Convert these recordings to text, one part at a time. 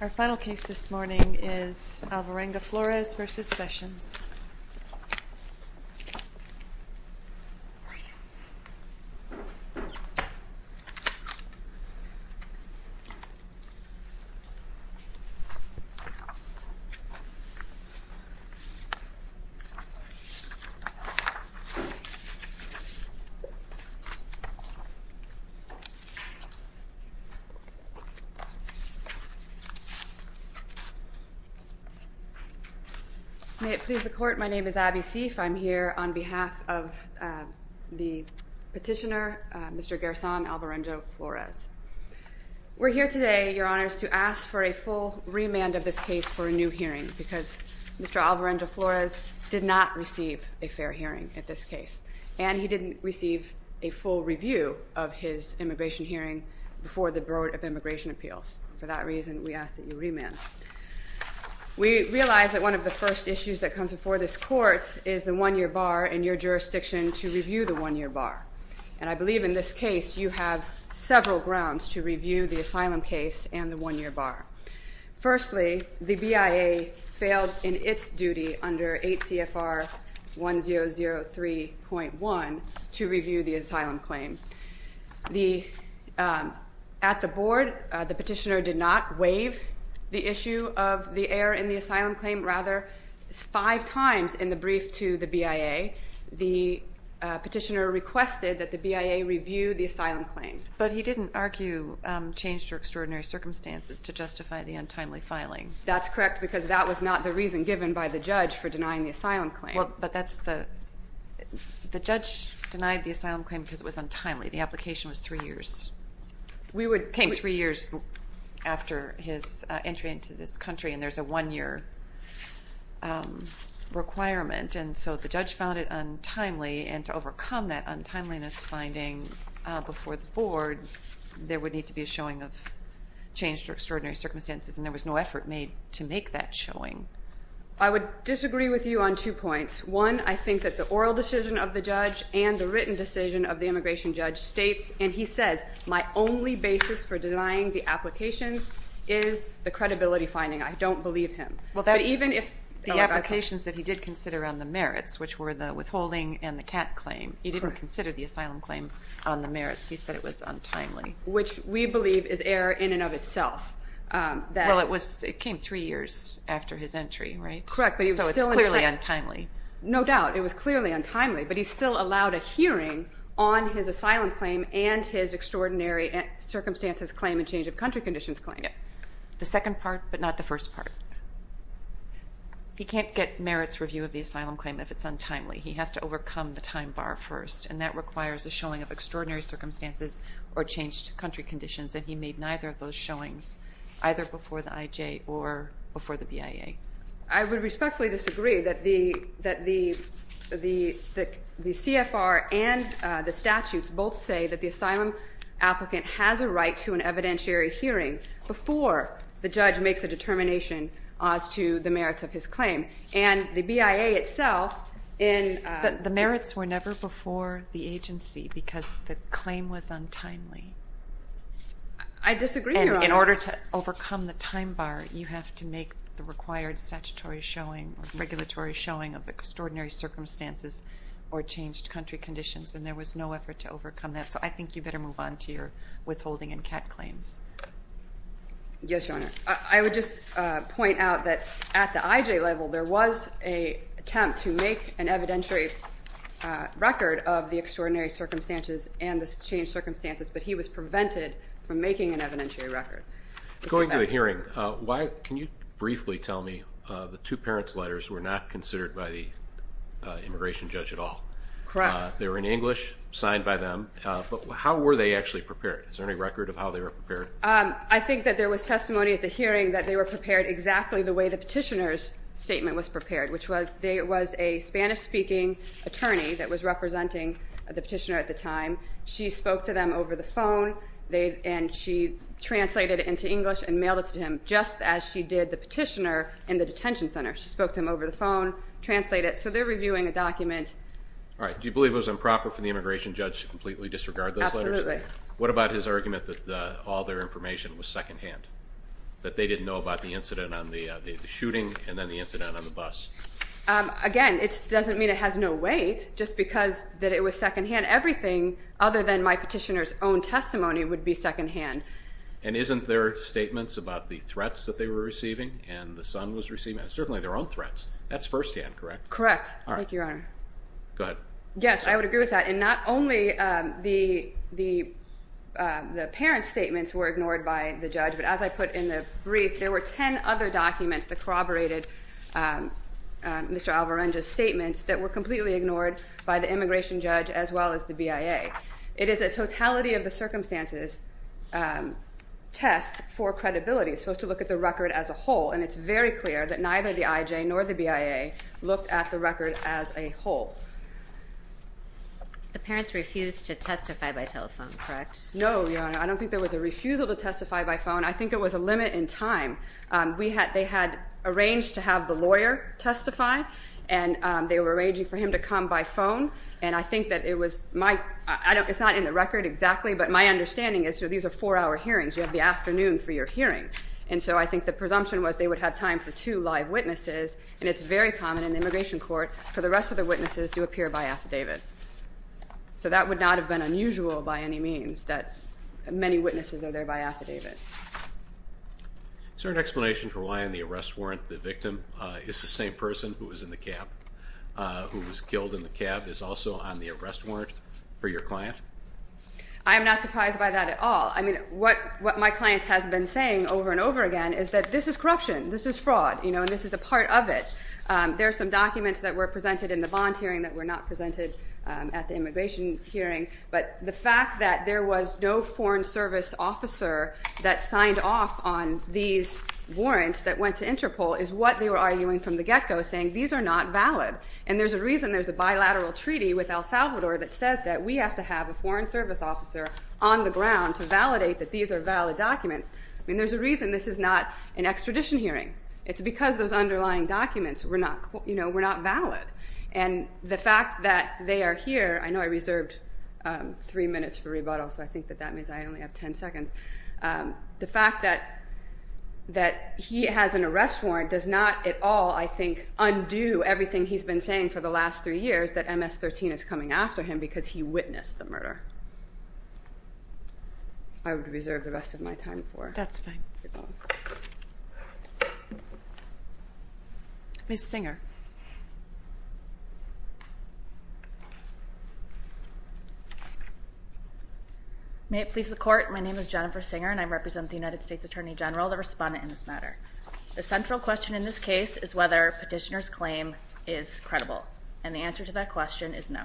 Our final case this morning is Alvarenga-Flores v. Sessions. May it please the Court, my name is Abby Seif. I'm here on behalf of the petitioner, Mr. Gerson Alvarenga-Flores. We're here today, Your Honors, to ask for a full remand of this case for a new hearing because Mr. Alvarenga-Flores did not receive a fair hearing at this case, and he didn't receive a full review of his immigration hearing before the Board of Immigration Appeals. For that reason, we ask that you remand. We realize that one of the first issues that comes before this Court is the one-year bar in your jurisdiction to review the one-year bar, and I believe in this case you have several grounds to review the asylum case and the one-year bar. Firstly, the BIA failed in its duty under 8 CFR 1003.1 to review the asylum claim. At the Board, the petitioner did not waive the issue of the error in the asylum claim. Rather, five times in the brief to the BIA, the petitioner requested that the BIA review the asylum claim. But he didn't argue change to extraordinary circumstances to justify the untimely filing. That's correct because that was not the reason given by the judge for denying the asylum claim. Well, but that's the, the judge denied the asylum claim because it was untimely. The application was three years. We would. It came three years after his entry into this country, and there's a one-year requirement, and so the judge found it untimely, and to overcome that untimeliness finding before the Board, there would need to be a showing of change to extraordinary circumstances, and there was no effort made to make that showing. I would disagree with you on two points. One, I think that the oral decision of the judge and the written decision of the immigration judge states, and he says, my only basis for denying the applications is the credibility finding. I don't believe him. Well, that even if the applications that he did consider on the merits, which were the withholding and the cat claim, he didn't consider the asylum claim on the merits. He said it was untimely. Which we believe is error in and of itself. Well, it was, it came three years after his entry, right? Correct. So it's clearly untimely. No doubt. It was clearly untimely, but he still allowed a hearing on his asylum claim and his extraordinary circumstances claim and change of country conditions claim. The second part, but not the first part. He can't get merits review of the asylum claim if it's untimely. He has to overcome the time bar first, and that requires a showing of extraordinary circumstances or changed country conditions, and he made neither of those showings, either before the IJ or before the BIA. I would respectfully disagree that the CFR and the statutes both say that the asylum applicant has a right to an evidentiary hearing before the judge makes a determination as to the merits of his claim. And the BIA itself in... The merits were never before the agency because the claim was untimely. I disagree, Your Honor. And in order to overcome the time bar, you have to make the required statutory showing or regulatory showing of extraordinary circumstances or changed country conditions, and there was no effort to overcome that, so I think you better move on to your withholding and CAT claims. Yes, Your Honor. I would just point out that at the IJ level, there was an attempt to make an evidentiary record of the extraordinary circumstances and the changed circumstances, but he was prevented from making an evidentiary record. Going to the hearing, can you briefly tell me the two parents' letters were not considered by the immigration judge at all? Correct. They were in English, signed by them, but how were they actually prepared? Is there any record of how they were prepared? I think that there was testimony at the hearing that they were prepared exactly the way the petitioner's statement was prepared, which was there was a Spanish-speaking attorney that was representing the petitioner at the time. She spoke to them over the phone, and she translated it into English and mailed it to him just as she did the petitioner in the detention center. She spoke to him over the phone, translated it, so they're reviewing a document. All right. Do you believe it was improper for the immigration judge to completely disregard those letters? Absolutely. What about his argument that all their information was second-hand, that they didn't know about the incident on the shooting and then the incident on the bus? Again, it doesn't mean it has no weight. Just because that it was second-hand, everything other than my petitioner's own testimony would be second-hand. And isn't their statements about the threats that they were receiving and the son was receiving, certainly their own threats, that's first-hand, correct? Correct. Thank you, Your Honor. Go ahead. Yes, I would agree with that. And not only the parent's statements were ignored by the judge, but as I put in the brief, there were 10 other documents that corroborated Mr. Alvarenga's statements that were completely ignored by the immigration judge as well as the BIA. It is a totality-of-the-circumstances test for credibility, supposed to look at the record as a whole, and it's very clear that neither the IJ nor the BIA looked at the record as a whole. The parents refused to testify by telephone, correct? No, Your Honor. I don't think there was a refusal to testify by phone. I think it was a limit in time. They had arranged to have the lawyer testify, and they were arranging for him to come by phone. And I think that it was my-it's not in the record exactly, but my understanding is these are four-hour hearings. You have the afternoon for your hearing. And so I think the presumption was they would have time for two live witnesses, and it's very common in the immigration court for the rest of the witnesses to appear by affidavit. So that would not have been unusual by any means, that many witnesses are there by affidavit. Is there an explanation for why on the arrest warrant the victim is the same person who was in the cab, who was killed in the cab, is also on the arrest warrant for your client? I am not surprised by that at all. I mean, what my client has been saying over and over again is that this is corruption, this is fraud, you know, and this is a part of it. There are some documents that were presented in the bond hearing that were not presented at the immigration hearing. But the fact that there was no Foreign Service officer that signed off on these warrants that went to Interpol is what they were arguing from the get-go, saying these are not valid. And there's a reason there's a bilateral treaty with El Salvador that says that we have to have a Foreign Service officer on the ground to validate that these are valid documents. I mean, there's a reason this is not an extradition hearing. It's because those underlying documents were not, you know, were not valid. And the fact that they are here, I know I reserved three minutes for rebuttal, so I think that that means I only have ten seconds. The fact that he has an arrest warrant does not at all, I think, undo everything he's been saying for the last three years, that MS-13 is coming after him because he witnessed the murder. I would reserve the rest of my time for rebuttal. That's fine. Ms. Singer. May it please the Court. My name is Jennifer Singer, and I represent the United States Attorney General, the respondent in this matter. The central question in this case is whether Petitioner's claim is credible, and the answer to that question is no.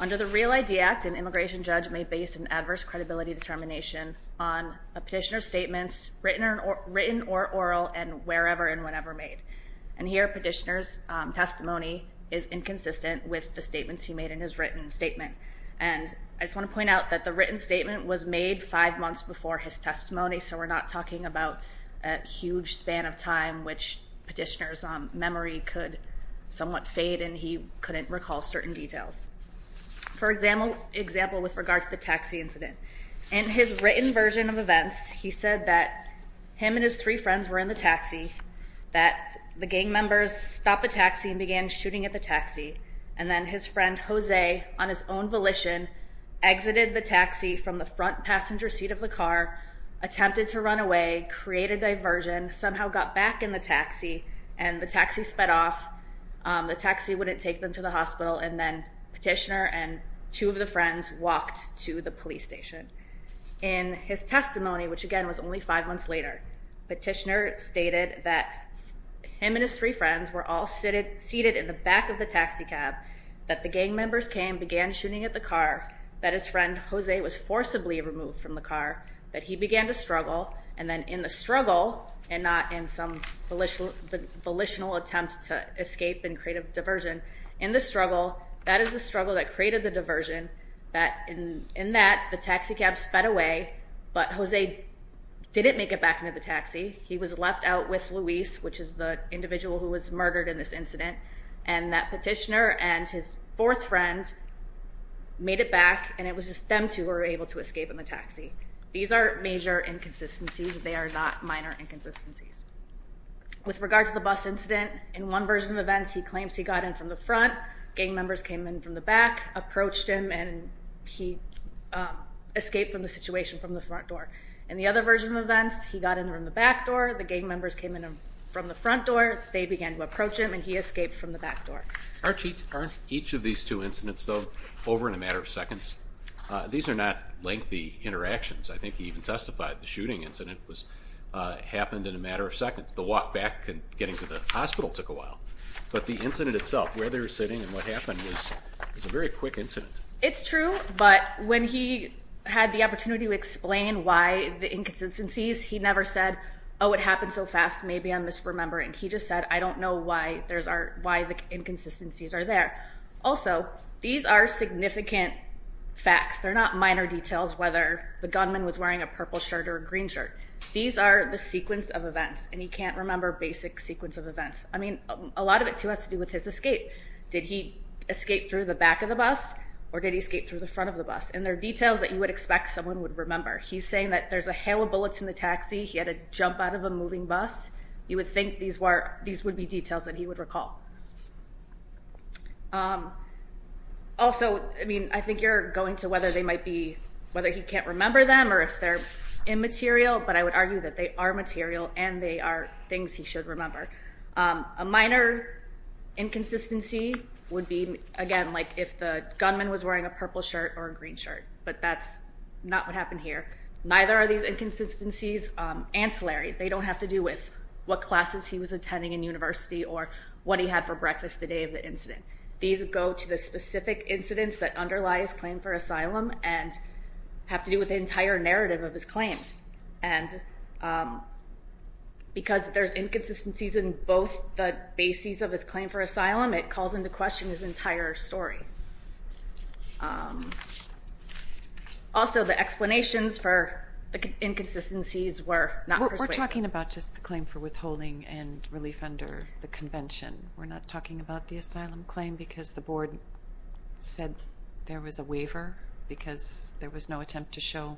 Under the REAL ID Act, an immigration judge may base an adverse credibility determination on a petitioner's statements, written or oral, and wherever and whenever made. And here, Petitioner's testimony is inconsistent with the statements he made in his written statement. And I just want to point out that the written statement was made five months before his testimony, so we're not talking about a huge span of time which Petitioner's memory could somewhat fade and he couldn't recall certain details. For example, with regard to the taxi incident, in his written version of events, he said that him and his three friends were in the taxi, that the gang members stopped the taxi and began shooting at the taxi, and then his friend, Jose, on his own volition, exited the taxi from the front passenger seat of the car, attempted to run away, created diversion, somehow got back in the taxi, and the taxi sped off. The taxi wouldn't take them to the hospital, and then Petitioner and two of the friends walked to the police station. In his testimony, which again was only five months later, Petitioner stated that him and his three friends were all seated in the back of the taxi cab, that the gang members came, began shooting at the car, that his friend, Jose, was forcibly removed from the car, that he began to struggle, and then in the struggle, and not in some volitional attempt to escape and create a diversion, in the struggle, that is the struggle that created the diversion, that in that, the taxi cab sped away, but Jose didn't make it back into the taxi. He was left out with Luis, which is the individual who was murdered in this incident, and that Petitioner and his fourth friend made it back, and it was just them two who were able to escape in the taxi. These are major inconsistencies. They are not minor inconsistencies. With regard to the bus incident, in one version of events, he claims he got in from the front, gang members came in from the back, approached him, and he escaped from the situation from the front door. In the other version of events, he got in from the back door, the gang members came in from the front door, they began to approach him, and he escaped from the back door. Aren't each of these two incidents, though, over in a matter of seconds? These are not lengthy interactions. I think he even testified the shooting incident happened in a matter of seconds. The walk back and getting to the hospital took a while, but the incident itself, where they were sitting and what happened was a very quick incident. It's true, but when he had the opportunity to explain why the inconsistencies, he never said, oh, it happened so fast, maybe I'm misremembering. He just said, I don't know why the inconsistencies are there. Also, these are significant facts. They're not minor details, whether the gunman was wearing a purple shirt or a green shirt. These are the sequence of events, and he can't remember basic sequence of events. I mean, a lot of it, too, has to do with his escape. Did he escape through the back of the bus, or did he escape through the front of the bus? And they're details that you would expect someone would remember. He's saying that there's a hail of bullets in the taxi, he had to jump out of a moving bus. You would think these would be details that he would recall. Also, I mean, I think you're going to whether they might be, whether he can't remember them or if they're immaterial, but I would argue that they are material and they are things he should remember. A minor inconsistency would be, again, like if the gunman was wearing a purple shirt or a green shirt, but that's not what happened here. Neither are these inconsistencies ancillary. They don't have to do with what classes he was attending in university or what he had for breakfast the day of the incident. These go to the specific incidents that underlie his claim for asylum and have to do with the entire narrative of his claims. And because there's inconsistencies in both the bases of his claim for asylum, it calls into question his entire story. Also, the explanations for the inconsistencies were not persuasive. We're talking about just the claim for withholding and relief under the convention. We're not talking about the asylum claim because the board said there was a waiver because there was no attempt to show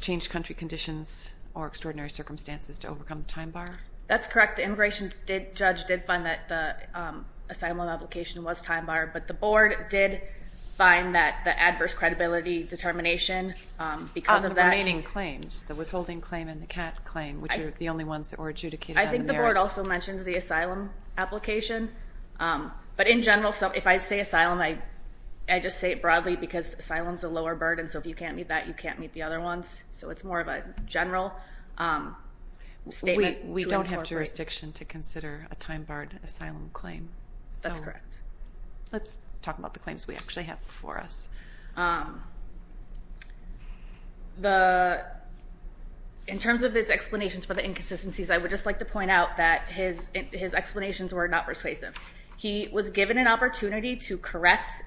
changed country conditions or extraordinary circumstances to overcome the time bar? That's correct. The immigration judge did find that the asylum application was time bar, but the board did find that the adverse credibility determination because of that. The remaining claims, the withholding claim and the CAT claim, which are the only ones that were adjudicated under the merits. I think the board also mentioned the asylum application. But in general, if I say asylum, I just say it broadly because asylum is a lower burden, so if you can't meet that, you can't meet the other ones. So it's more of a general statement. We don't have jurisdiction to consider a time barred asylum claim. That's correct. Let's talk about the claims we actually have before us. In terms of his explanations for the inconsistencies, I would just like to point out that his explanations were not persuasive. He was given an opportunity to correct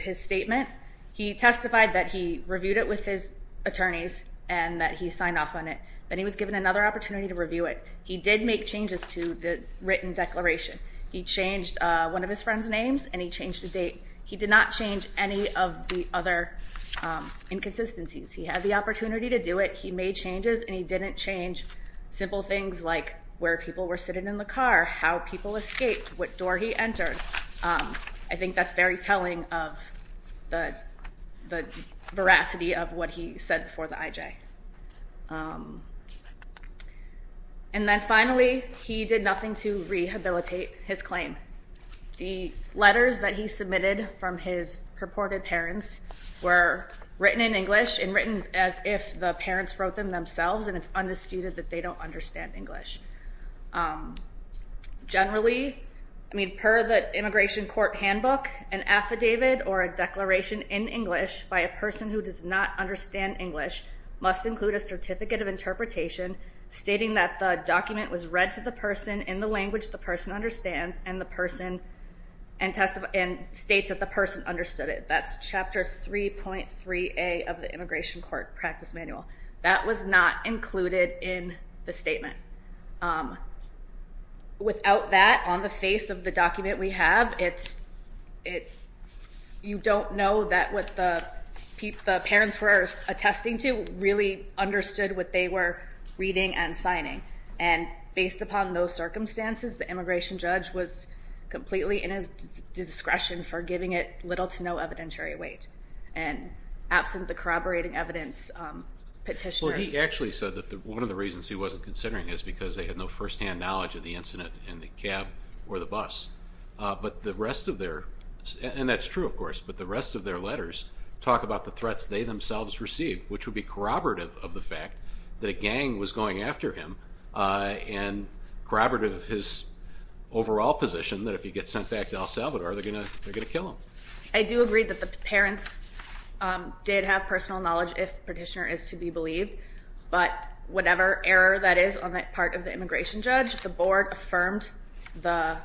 his statement. He testified that he reviewed it with his attorneys and that he signed off on it. Then he was given another opportunity to review it. He did make changes to the written declaration. He changed one of his friend's names and he changed the date. He did not change any of the other inconsistencies. He had the opportunity to do it. He made changes and he didn't change simple things like where people were sitting in the car, how people escaped, what door he entered. I think that's very telling of the veracity of what he said before the IJ. And then finally, he did nothing to rehabilitate his claim. The letters that he submitted from his purported parents were written in English and written as if the parents wrote them themselves, and it's undisputed that they don't understand English. Generally, I mean, per the immigration court handbook, an affidavit or a declaration in English by a person who does not understand English must include a certificate of interpretation stating that the document was read to the person in the language the person understands and states that the person understood it. That's Chapter 3.3A of the Immigration Court Practice Manual. That was not included in the statement. Without that, on the face of the document we have, you don't know that what the parents were attesting to really understood what they were reading and signing. And based upon those circumstances, the immigration judge was completely in his discretion for giving it little to no evidentiary weight. And absent the corroborating evidence, petitioners... Well, he actually said that one of the reasons he wasn't considering is because they had no firsthand knowledge of the incident in the cab or the bus. But the rest of their, and that's true, of course, but the rest of their letters talk about the threats they themselves received, which would be corroborative of the fact that a gang was going after him and corroborative of his overall position that if he gets sent back to El Salvador, they're going to kill him. I do agree that the parents did have personal knowledge if the petitioner is to be believed, but whatever error that is on that part of the immigration judge, the board affirmed the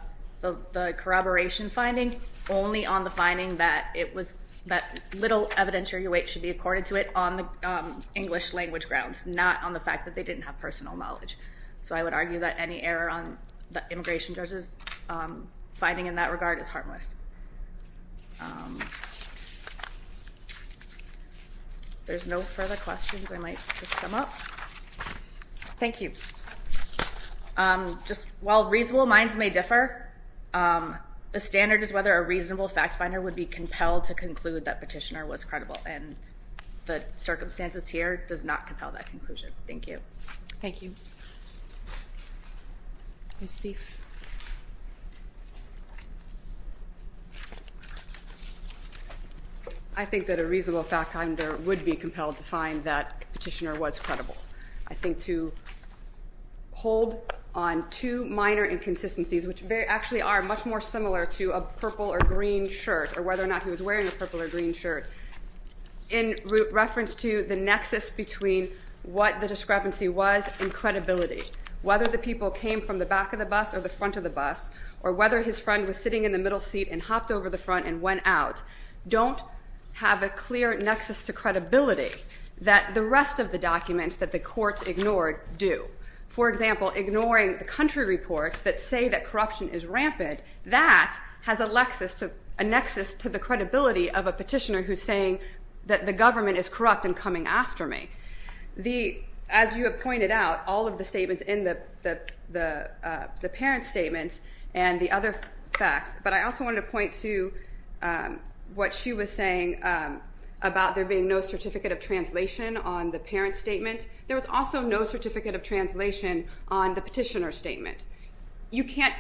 corroboration finding only on the finding that it was, that little evidentiary weight should be accorded to it on the English language grounds, not on the fact that they didn't have personal knowledge. So I would argue that any error on the immigration judge's finding in that regard is harmless. If there's no further questions, I might just come up. Thank you. Just while reasonable minds may differ, the standard is whether a reasonable fact finder would be compelled to conclude that petitioner was credible, and the circumstances here does not compel that conclusion. Thank you. Thank you. I think that a reasonable fact finder would be compelled to find that petitioner was credible. I think to hold on to minor inconsistencies, which actually are much more similar to a purple or green shirt, or whether or not he was wearing a purple or green shirt, in reference to the nexus between what the discrepancy was and credibility, whether the people came from the back of the bus or the front of the bus, or whether his friend was sitting in the middle seat and hopped over the front and went out, don't have a clear nexus to credibility that the rest of the documents that the courts ignored do. For example, ignoring the country reports that say that corruption is rampant, that has a nexus to the credibility of a petitioner who's saying that the government is corrupt and coming after me. As you have pointed out, all of the statements in the parent statements and the other facts, but I also wanted to point to what she was saying about there being no certificate of translation on the parent statement. There was also no certificate of translation on the petitioner statement. You can't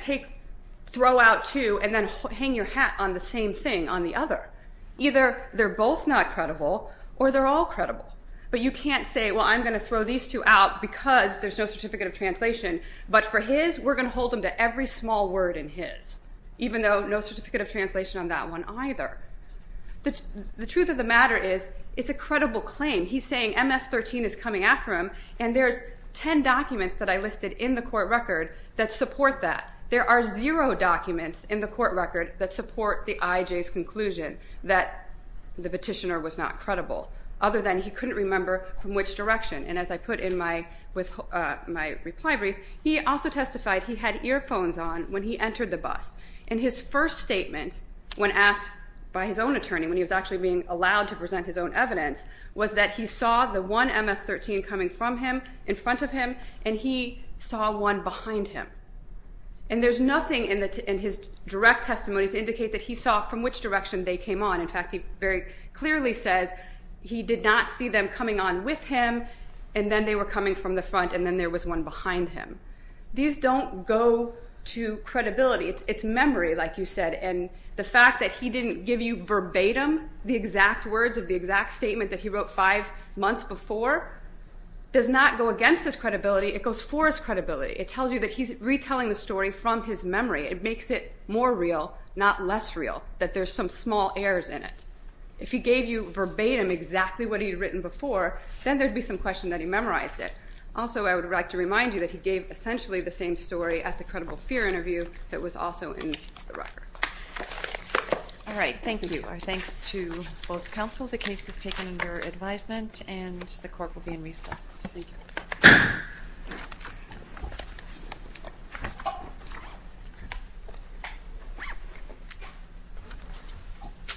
throw out two and then hang your hat on the same thing on the other. Either they're both not credible or they're all credible, but you can't say, well, I'm going to throw these two out because there's no certificate of translation, but for his, we're going to hold them to every small word in his, even though no certificate of translation on that one either. The truth of the matter is it's a credible claim. He's saying MS-13 is coming after him, and there's 10 documents that I listed in the court record that support that. There are zero documents in the court record that support the IJ's conclusion that the petitioner was not credible, other than he couldn't remember from which direction. And as I put in my reply brief, he also testified he had earphones on when he entered the bus, and his first statement when asked by his own attorney, when he was actually being allowed to present his own evidence, was that he saw the one MS-13 coming from him in front of him, and he saw one behind him. And there's nothing in his direct testimony to indicate that he saw from which direction they came on. In fact, he very clearly says he did not see them coming on with him, and then they were coming from the front, and then there was one behind him. These don't go to credibility. It's memory, like you said, and the fact that he didn't give you verbatim the exact words of the exact statement that he wrote five months before does not go against his credibility. It goes for his credibility. It makes it more real, not less real, that there's some small errors in it. If he gave you verbatim exactly what he had written before, then there would be some question that he memorized it. Also, I would like to remind you that he gave essentially the same story at the credible fear interview that was also in the record. All right, thank you. Our thanks to both counsel. The case is taken under advisement, and the court will be in recess. Thank you. Thank you.